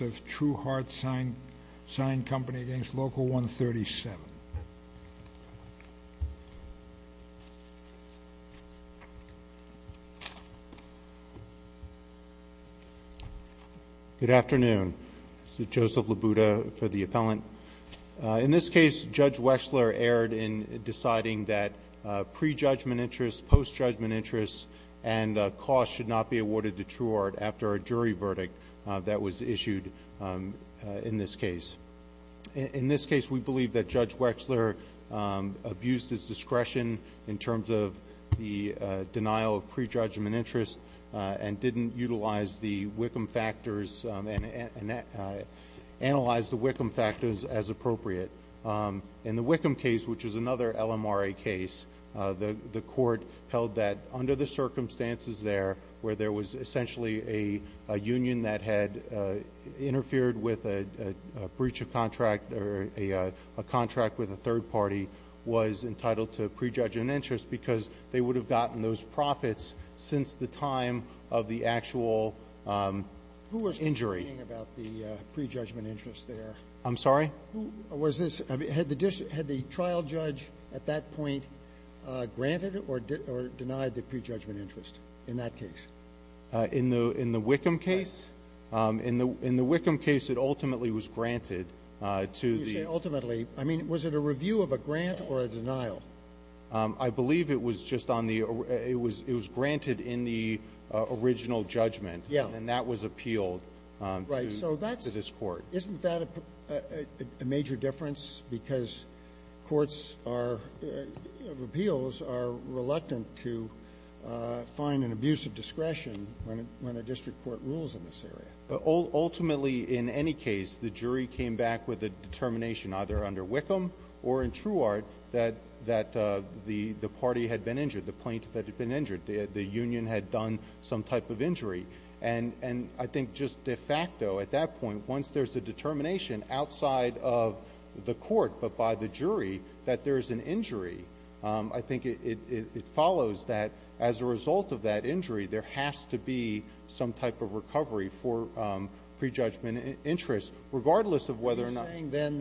of True Heart Sign Co., Inc. v. Local 137. Good afternoon. This is Joseph Labuda for the appellant. In this case, Judge Wechsler erred in deciding that pre-judgment interests, post-judgment interests, and costs should not be awarded to True Heart after a jury verdict that was issued in this case. In this case, we believe that Judge Wechsler abused his discretion in terms of the denial of pre-judgment interests and didn't utilize the Wickham factors and analyze the Wickham factors as appropriate. In the Wickham case, which is another LMRA case, the court held that under the circumstances there, where there was essentially a union that had interfered with a breach of contract or a contract with a third party, was entitled to pre-judgment interest because they would have gotten those profits since the time of the actual injury. Who was complaining about the pre-judgment interest there? I'm sorry? Was this – had the trial judge at that point granted or denied the pre-judgment interest in that case? In the – in the Wickham case? In the – in the Wickham case, it ultimately was granted to the – You say ultimately. I mean, was it a review of a grant or a denial? I believe it was just on the – it was – it was granted in the original judgment. And that was appealed to this court. Right. So that's – isn't that a major difference? Because courts are – appeals are reluctant to find an abuse of discretion when a district court rules in this area. Ultimately, in any case, the jury came back with a determination, either under Wickham or in Truard, that the party had been injured, the plaintiff had been injured, the union had done some type of injury. And I think just de facto at that point, once there's a determination outside of the court but by the jury that there's an injury, I think it follows that as a result of that injury, there has to be some type of recovery for pre-judgment interest, regardless of whether or not – Are you saying then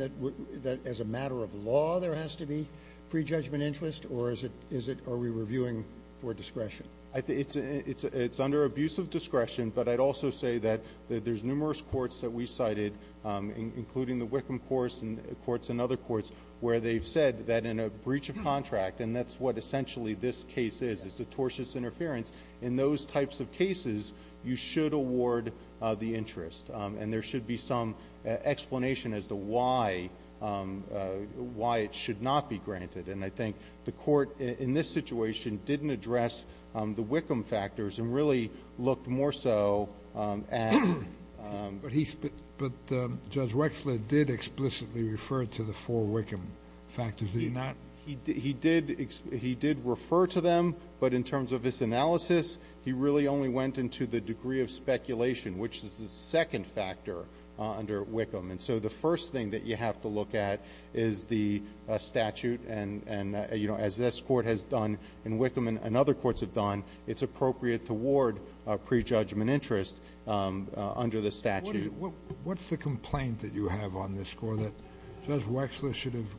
that as a matter of law, there has to be pre-judgment interest, or is it – are we reviewing for discretion? It's under abuse of discretion, but I'd also say that there's numerous courts that we cited, including the Wickham courts and other courts, where they've said that in a breach of contract – and that's what essentially this case is, is a tortious interference – in those types of cases, you should award the interest. And there should be some explanation as to why it should not be granted. And I think the court in this situation didn't address the Wickham factors and really looked more so at – But Judge Wexler did explicitly refer to the four Wickham factors, did he not? He did refer to them, but in terms of his analysis, he really only went into the degree of speculation, which is the second factor under Wickham. And so the first thing that you have to look at is the statute, and as this court has done and Wickham and other under the statute. What's the complaint that you have on this court, that Judge Wexler should have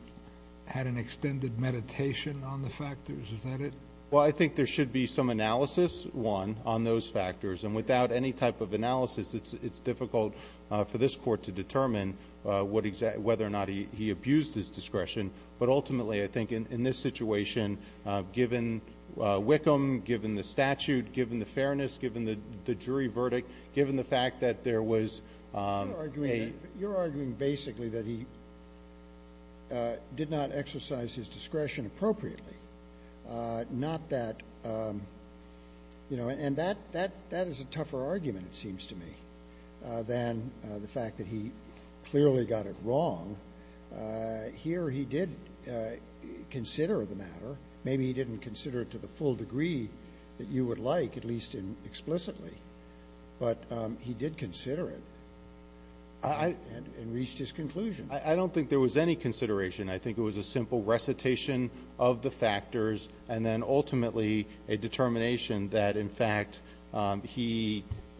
had an extended meditation on the factors? Is that it? Well, I think there should be some analysis, one, on those factors. And without any type of analysis, it's difficult for this court to determine whether or not he abused his discretion. But ultimately, I think in this situation, given Wickham, given the statute, given the fairness, given the jury verdict, given the fact that there was a – You're arguing basically that he did not exercise his discretion appropriately, not that – and that is a tougher argument, it seems to me, than the fact that he clearly got it wrong. Here he did consider the matter. Maybe he didn't consider it to the full degree that you would like, at least explicitly, but he did consider it and reached his conclusion. I don't think there was any consideration. I think it was a simple recitation of the factors and then ultimately a determination that, in fact, he –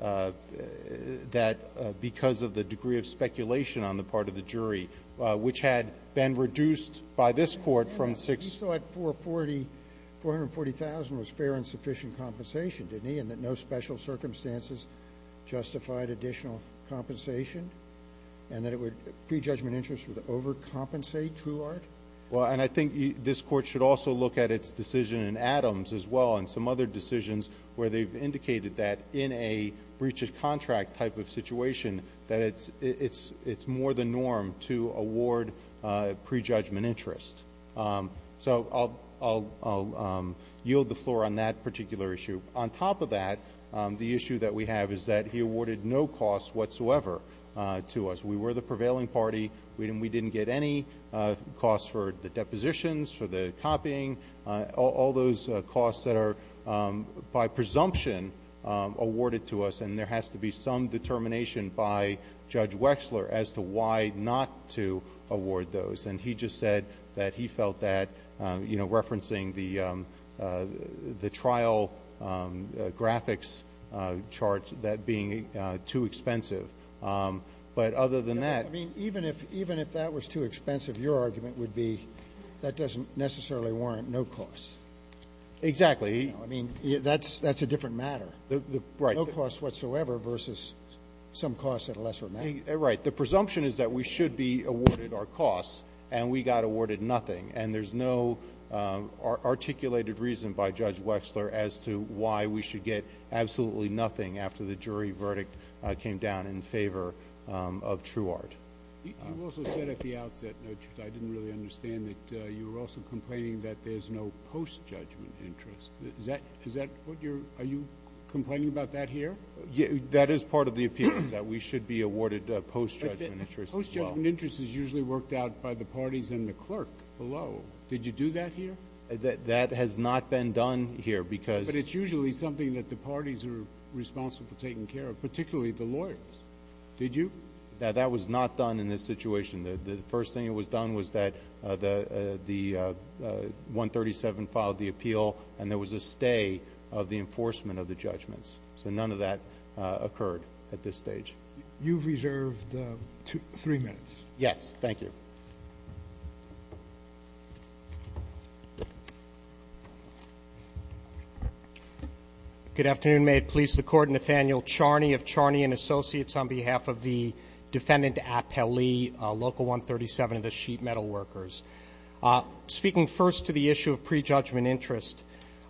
that because of the degree of speculation on the part of the jury, which had been reduced by this court from six – Well, and I think this court should also look at its decision in Adams as well and some other decisions where they've indicated that in a breach of contract type of situation that it's more the norm to award prejudgment interest. So I'll yield the floor on that particular issue. On top of that, the issue that we have is that he awarded no costs whatsoever to us. We were the prevailing party. We didn't get any costs for the depositions, for the copying, all those costs that are by presumption awarded to us, and there has to be some determination by Judge Wexler as to why not to award those. And he just said that he felt that, you know, referencing the trial graphics chart, that being too expensive. But other than that – I mean, even if – even if that was too expensive, your argument would be that doesn't necessarily warrant no costs. Exactly. I mean, that's – that's a different matter. Right. No costs whatsoever versus some costs at a lesser amount. Right. The presumption is that we should be awarded our costs, and we got awarded nothing. And there's no articulated reason by Judge Wexler as to why we should get absolutely nothing after the jury verdict came down in favor of Truard. You also said at the outset, Judge, I didn't really understand, that you were also complaining that there's no post-judgment interest. Is that – is that what you're – are you complaining about that here? That is part of the appeal, that we should be awarded post-judgment interest as well. But the post-judgment interest is usually worked out by the parties and the clerk below. Did you do that here? That has not been done here because – But it's usually something that the parties are responsible for taking care of, particularly the lawyers. Did you? That was not done in this situation. The first thing that was done was that the 137 filed the appeal, and there was a stay of the enforcement of the judgments. So none of that occurred at this stage. You've reserved three minutes. Yes. Thank you. Good afternoon. May it please the Court. Nathaniel Charney of Charney & Associates on behalf of the Defendant Appellee, Local 137 of the Sheet Metal Workers. Speaking first to the issue of prejudgment interest,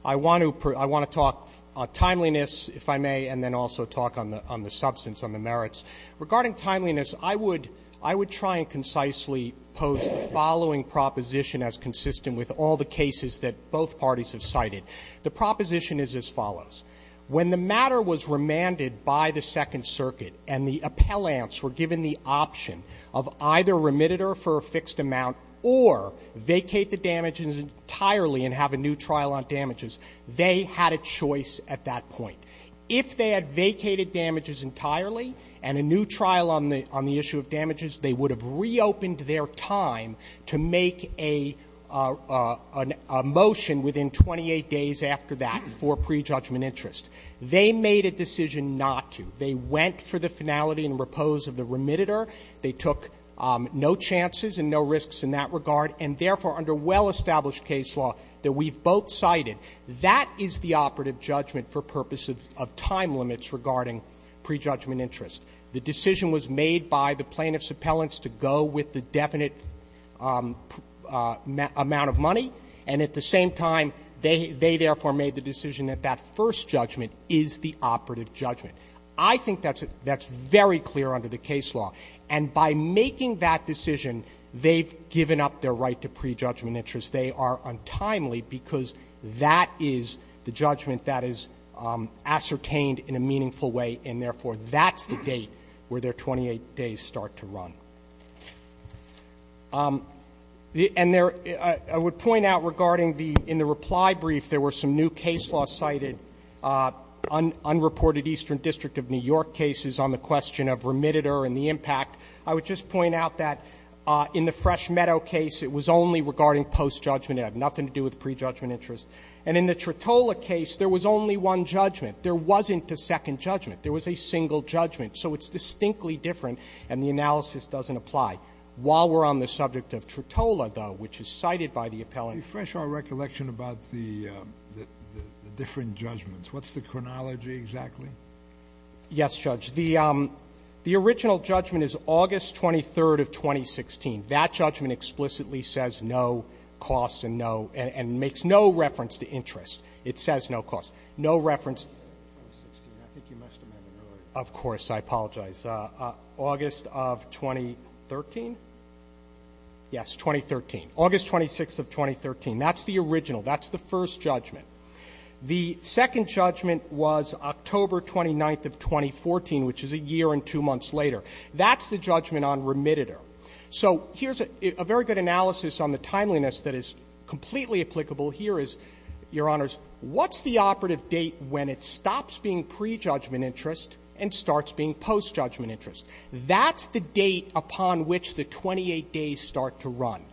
I want to – I want to talk timeliness, if I may, and then also talk on the – on the substance, on the merits. Regarding timeliness, I would – I would try and concisely pose the following proposition as consistent with all the cases that both parties have cited. The proposition is as follows. When the matter was remanded by the Second Circuit and the appellants were given the option of either remitted her for a fixed amount or vacate the damages entirely and have a new trial on damages, they had a choice at that point. If they had vacated damages entirely and a new trial on the issue of damages, they would have reopened their time to make a motion within 28 days after that for prejudgment interest. They made a decision not to. They went for the finality and repose of the remitted her. They took no chances and no risks in that regard. And therefore, under well-established case law that we've both cited, that is the operative judgment for purposes of time limits regarding prejudgment interest. The decision was made by the plaintiff's appellants to go with the definite amount of money. And at the same time, they therefore made the decision that that first judgment is the operative judgment. I think that's a – that's very clear under the case law. And by making that decision, they've given up their right to prejudgment interest. They are untimely because that is the judgment that is ascertained in a meaningful way, and therefore, that's the date where their 28 days start to run. And there – I would point out regarding the – in the reply brief, there were some new case law cited, unreported Eastern District of New York cases on the question of remitted her and the impact. I would just point out that in the Fresh Meadow case, it was only regarding post-judgment. It had nothing to do with prejudgment interest. And in the Tritola case, there was only one judgment. There wasn't a second judgment. There was a single judgment. So it's distinctly different, and the analysis doesn't apply. While we're on the subject of Tritola, though, which is cited by the appellant Refresh our recollection about the different judgments. What's the chronology exactly? Yes, Judge. The original judgment is August 23rd of 2016. That judgment explicitly says no costs and no – and makes no reference to interest. It says no costs. No reference – Of course, I apologize. August of 2013? Yes, 2013. August 26th of 2013. That's the original. That's the first judgment. The second judgment was October 29th of 2014, which is a year and two months later. That's the judgment on remitted her. So here's a very good analysis on the timeliness that is completely applicable here is, Your Honors, what's the operative date when it stops being prejudgment interest and starts being post-judgment interest? That's the date upon which the 28 days start to run.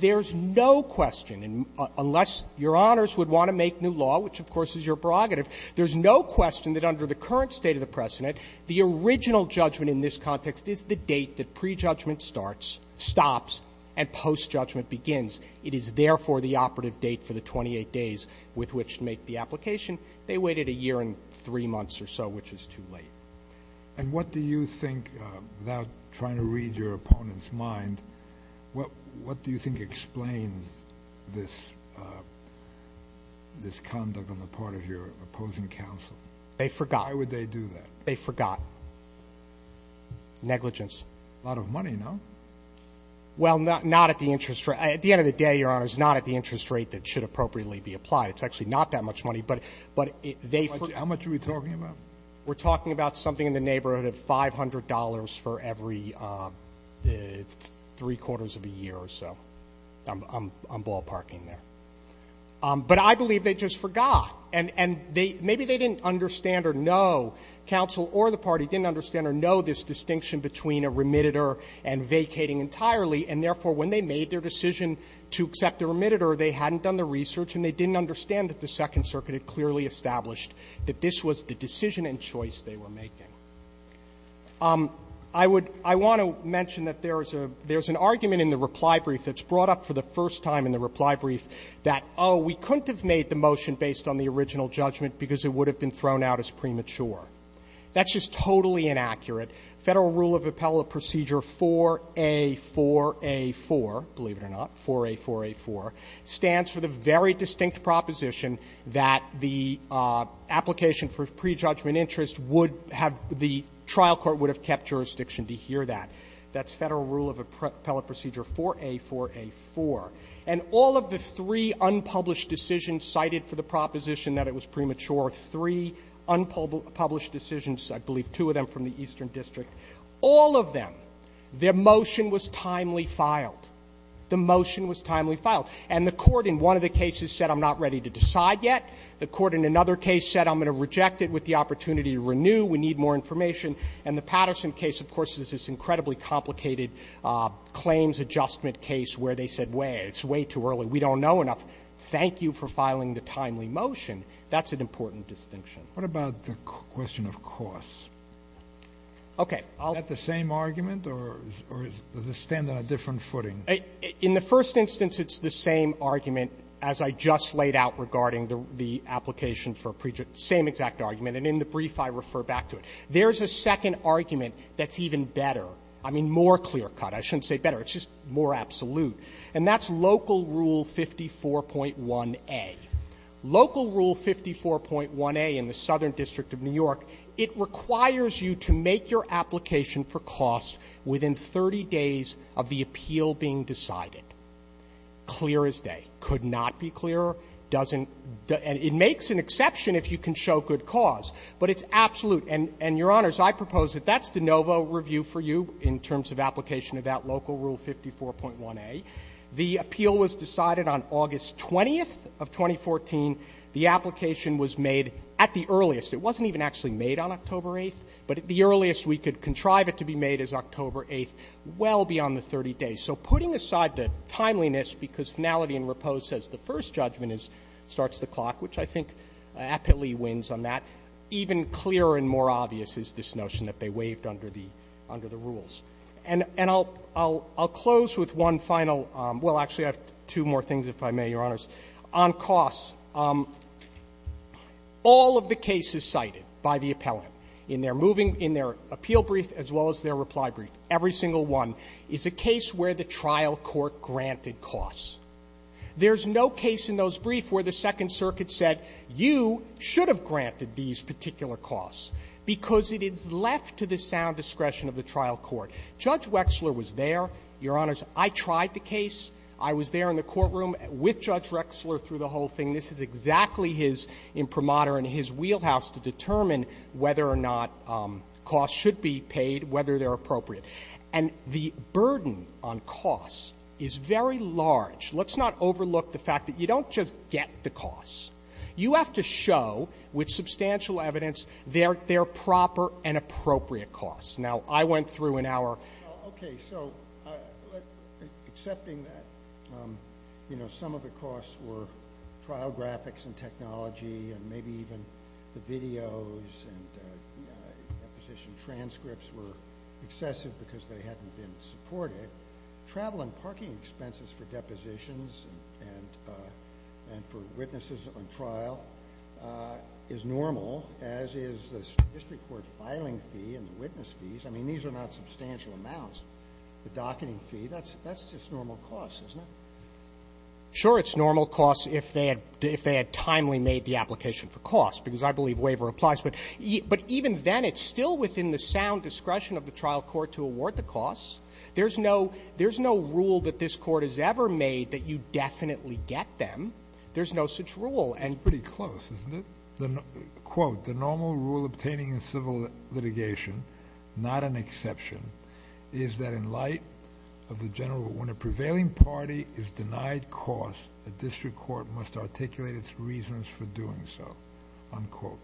There's no question, and unless Your Honors would want to make new law, which, of course, is your prerogative, there's no question that under the current state of the precedent, the original judgment in this context is the date that prejudgment starts, stops, and post-judgment begins. It is, therefore, the operative date for the 28 days with which to make the application. They waited a year and three months or so, which is too late. And what do you think, without trying to read your opponent's mind, what do you think explains this conduct on the part of your opposing counsel? They forgot. Why would they do that? They forgot. Negligence. A lot of money, no? Well, not at the interest rate. At the end of the day, Your Honors, not at the interest rate that should appropriately be applied. It's actually not that much money, but they forgot. How much are we talking about? We're talking about something in the neighborhood of $500 for every three-quarters of a year or so. I'm ballparking there. But I believe they just forgot. And maybe they didn't understand or know, counsel or the party didn't understand or know this distinction between a remitter and vacating entirely, and, therefore, when they made their decision to accept the remitter, they hadn't done the research and they didn't understand that the Second Circuit had clearly established that this was the decision and choice they were making. I want to mention that there's an argument in the reply brief that's brought up for the first time in the reply brief that, oh, we couldn't have made the motion based on the original judgment because it would have been thrown out as premature. That's just totally inaccurate. Federal Rule of Appellate Procedure 4A4A4, believe it or not, 4A4A4, stands for the very distinct proposition that the application for prejudgment interest would have the trial court would have kept jurisdiction to hear that. That's Federal Rule of Appellate Procedure 4A4A4. And all of the three unpublished decisions cited for the proposition that it was premature, three unpublished decisions, I believe two of them from the Eastern District, all of them, their motion was timely filed. The motion was timely filed. And the court in one of the cases said, I'm not ready to decide yet. The court in another case said, I'm going to reject it with the opportunity to renew. We need more information. And the Patterson case, of course, is this incredibly complicated claims adjustment case where they said, wait, it's way too early. We don't know enough. Thank you for filing the timely motion. That's an important distinction. Kennedy. What about the question of costs? Okay. Is that the same argument or does it stand on a different footing? In the first instance, it's the same argument as I just laid out regarding the application for prejudice. Same exact argument. And in the brief, I refer back to it. There's a second argument that's even better. I mean, more clear-cut. I shouldn't say better. It's just more absolute. And that's Local Rule 54.1a. Local Rule 54.1a in the Southern District of New York, it requires you to make your application for costs within 30 days of the appeal being decided. Clear as day. Could not be clearer. Doesn't — and it makes an exception if you can show good cause. But it's absolute. And, Your Honors, I propose that that's de novo review for you in terms of application of that Local Rule 54.1a. The appeal was decided on August 20th of 2014. The application was made at the earliest. It wasn't even actually made on October 8th. But at the earliest, we could contrive it to be made as October 8th, well beyond the 30 days. So putting aside the timeliness, because finality and repose says the first judgment starts the clock, which I think aptly wins on that, even clearer and more obvious is this notion that they waived under the rules. And I'll close with one final — well, actually, I have two more things, if I may, Your Honors. On costs, all of the cases cited by the appellant in their moving — in their appeal brief as well as their reply brief, every single one, is a case where the trial court granted costs. There's no case in those briefs where the Second Circuit said you should have granted these particular costs because it is left to the sound discretion of the trial court. Judge Wexler was there. Your Honors, I tried the case. I was there in the courtroom with Judge Wexler through the whole thing. This is exactly his imprimatur and his wheelhouse to determine whether or not costs should be paid, whether they're appropriate. And the burden on costs is very large. Let's not overlook the fact that you don't just get the costs. You have to show, with substantial evidence, their — their proper and appropriate costs. Now, I went through in our — accepting that, you know, some of the costs were trial graphics and technology and maybe even the videos and deposition transcripts were excessive because they hadn't been supported. Travel and parking expenses for depositions and for witnesses on trial is normal, as is the district court filing fee and the witness fees. I mean, these are not substantial amounts. The docketing fee, that's — that's just normal costs, isn't it? Sure, it's normal costs if they had — if they had timely made the application for costs, because I believe waiver applies. But even then, it's still within the sound discretion of the trial court to award the costs. There's no — there's no rule that this Court has ever made that you definitely get them. There's no such rule. It's pretty close, isn't it? The — quote, "...the normal rule obtaining in civil litigation, not an exception, is that in light of the general, when a prevailing party is denied costs, the district court must articulate its reasons for doing so." Unquote.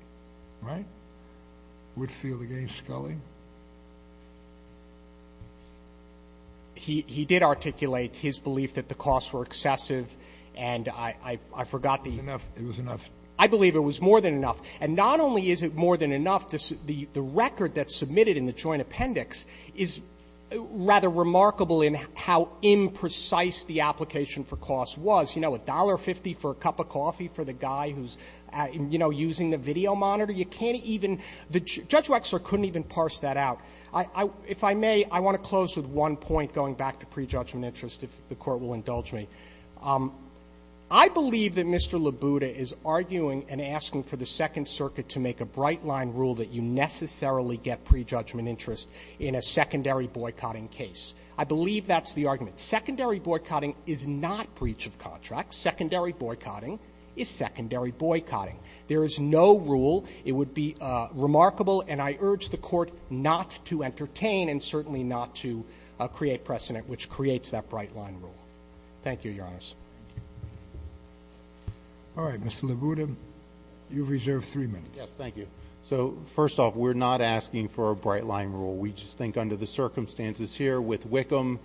Right? Whitfield against Scully? He — he did articulate his belief that the costs were excessive, and I — I forgot the — It was enough. It was enough. I believe it was more than enough. And not only is it more than enough, the — the record that's submitted in the joint appendix is rather remarkable in how imprecise the application for costs was. You know, $1.50 for a cup of coffee for the guy who's, you know, using the video monitor? You can't even — Judge Wexler couldn't even parse that out. I — I — if I may, I want to close with one point, going back to prejudgment interest, if the Court will indulge me. I believe that Mr. Labuda is arguing and asking for the Second Circuit to make a bright line rule that you necessarily get prejudgment interest in a secondary boycotting case. I believe that's the argument. Secondary boycotting is not breach of contract. Secondary boycotting is secondary boycotting. There is no rule. It would be remarkable, and I urge the Court not to entertain and certainly not to create precedent, which creates that bright line rule. Thank you, Your Honor. All right. Mr. Labuda, you reserve three minutes. Yes. Thank you. So, first off, we're not asking for a bright line rule. We just think under the circumstances here with Wickham,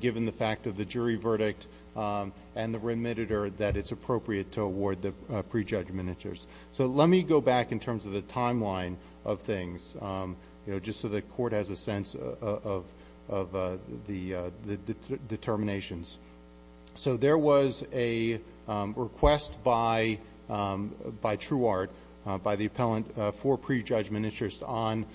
given the fact of the jury verdict and the remitter, that it's appropriate to award the prejudgment interest. So let me go back in terms of the timeline of things, you know, just so the Court has a sense of the determinations. So there was a request by Truard, by the appellant, for prejudgment interest on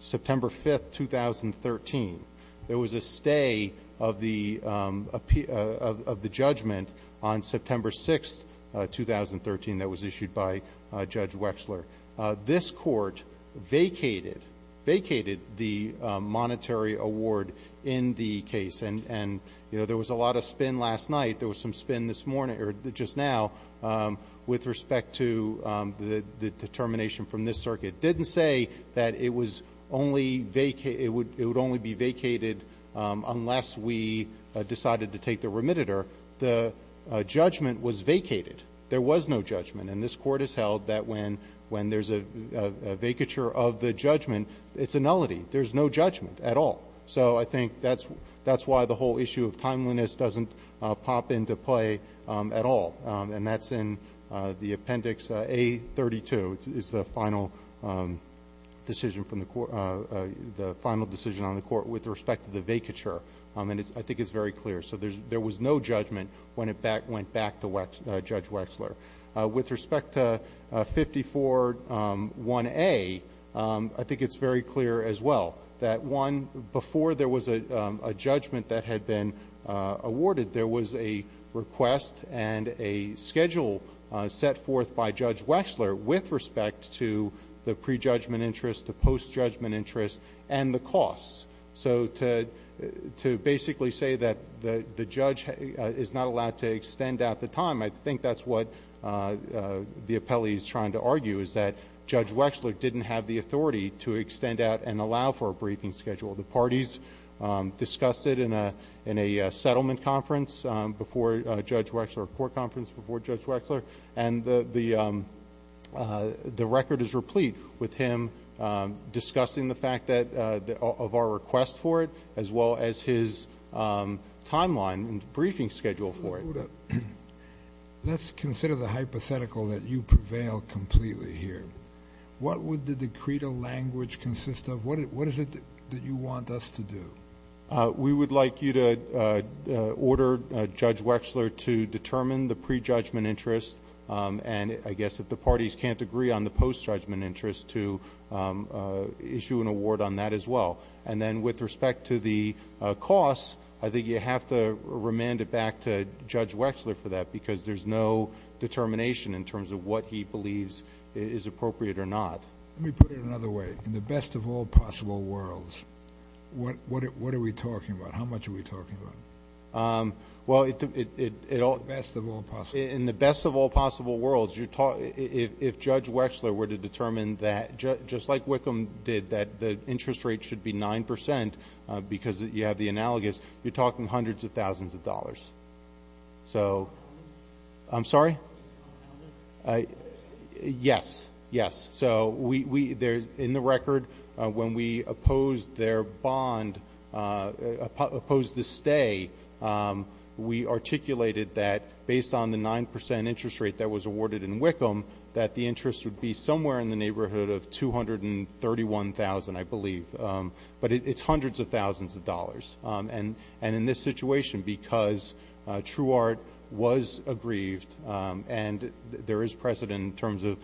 September 5th, 2013. There was a stay of the judgment on September 6th, 2013, that was issued by Judge Wexler. This Court vacated, vacated the monetary award in the case. And, you know, there was a lot of spin last night. There was some spin this morning or just now with respect to the determination from this circuit. It didn't say that it was only vacated, it would only be vacated unless we decided to take the remitter. The judgment was vacated. There was no judgment. And this Court has held that when there's a vacature of the judgment, it's a nullity. There's no judgment at all. So I think that's why the whole issue of timeliness doesn't pop into play at all. And that's in the Appendix A32, is the final decision from the Court, the final decision on the Court with respect to the vacature. And I think it's very clear. So there was no judgment when it went back to Judge Wexler. With respect to 54-1A, I think it's very clear as well that, one, before there was a judgment that had been awarded, there was a request and a schedule set forth by Judge Wexler with respect to the pre-judgment interest, the post-judgment interest, and the costs. So to basically say that the judge is not allowed to extend out the time, I think that's what the appellee is trying to argue, is that Judge Wexler didn't have the authority to extend out and allow for a briefing schedule. The parties discussed it in a settlement conference before Judge Wexler, a court conference before Judge Wexler. And the record is replete with him discussing the fact of our request for it, as well as his timeline and briefing schedule for it. Let's consider the hypothetical that you prevail completely here. What would the decreto language consist of? What is it that you want us to do? We would like you to order Judge Wexler to determine the pre-judgment interest and, I guess, if the parties can't agree on the post-judgment interest, to issue an award on that as well. And then with respect to the costs, I think you have to remand it back to Judge Wexler for that because there's no determination in terms of what he believes is appropriate or not. Let me put it another way. In the best of all possible worlds, what are we talking about? How much are we talking about? Well, in the best of all possible worlds, if Judge Wexler were to determine that, just like Wickham did, that the interest rate should be 9% because you have the analogous, you're talking hundreds of thousands of dollars. So I'm sorry? Yes. Yes. So in the record, when we opposed their bond, opposed the stay, we articulated that based on the 9% interest rate that was awarded in Wickham, that the interest would be somewhere in the neighborhood of $231,000, I believe. But it's hundreds of thousands of dollars. And in this situation, because TrueArt was aggrieved and there is precedent in terms of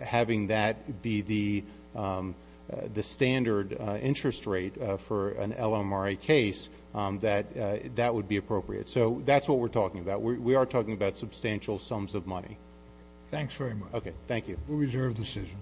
having that be the standard interest rate for an LMRA case, that that would be appropriate. So that's what we're talking about. We are talking about substantial sums of money. Thanks very much. Okay. Thank you. We reserve the decision.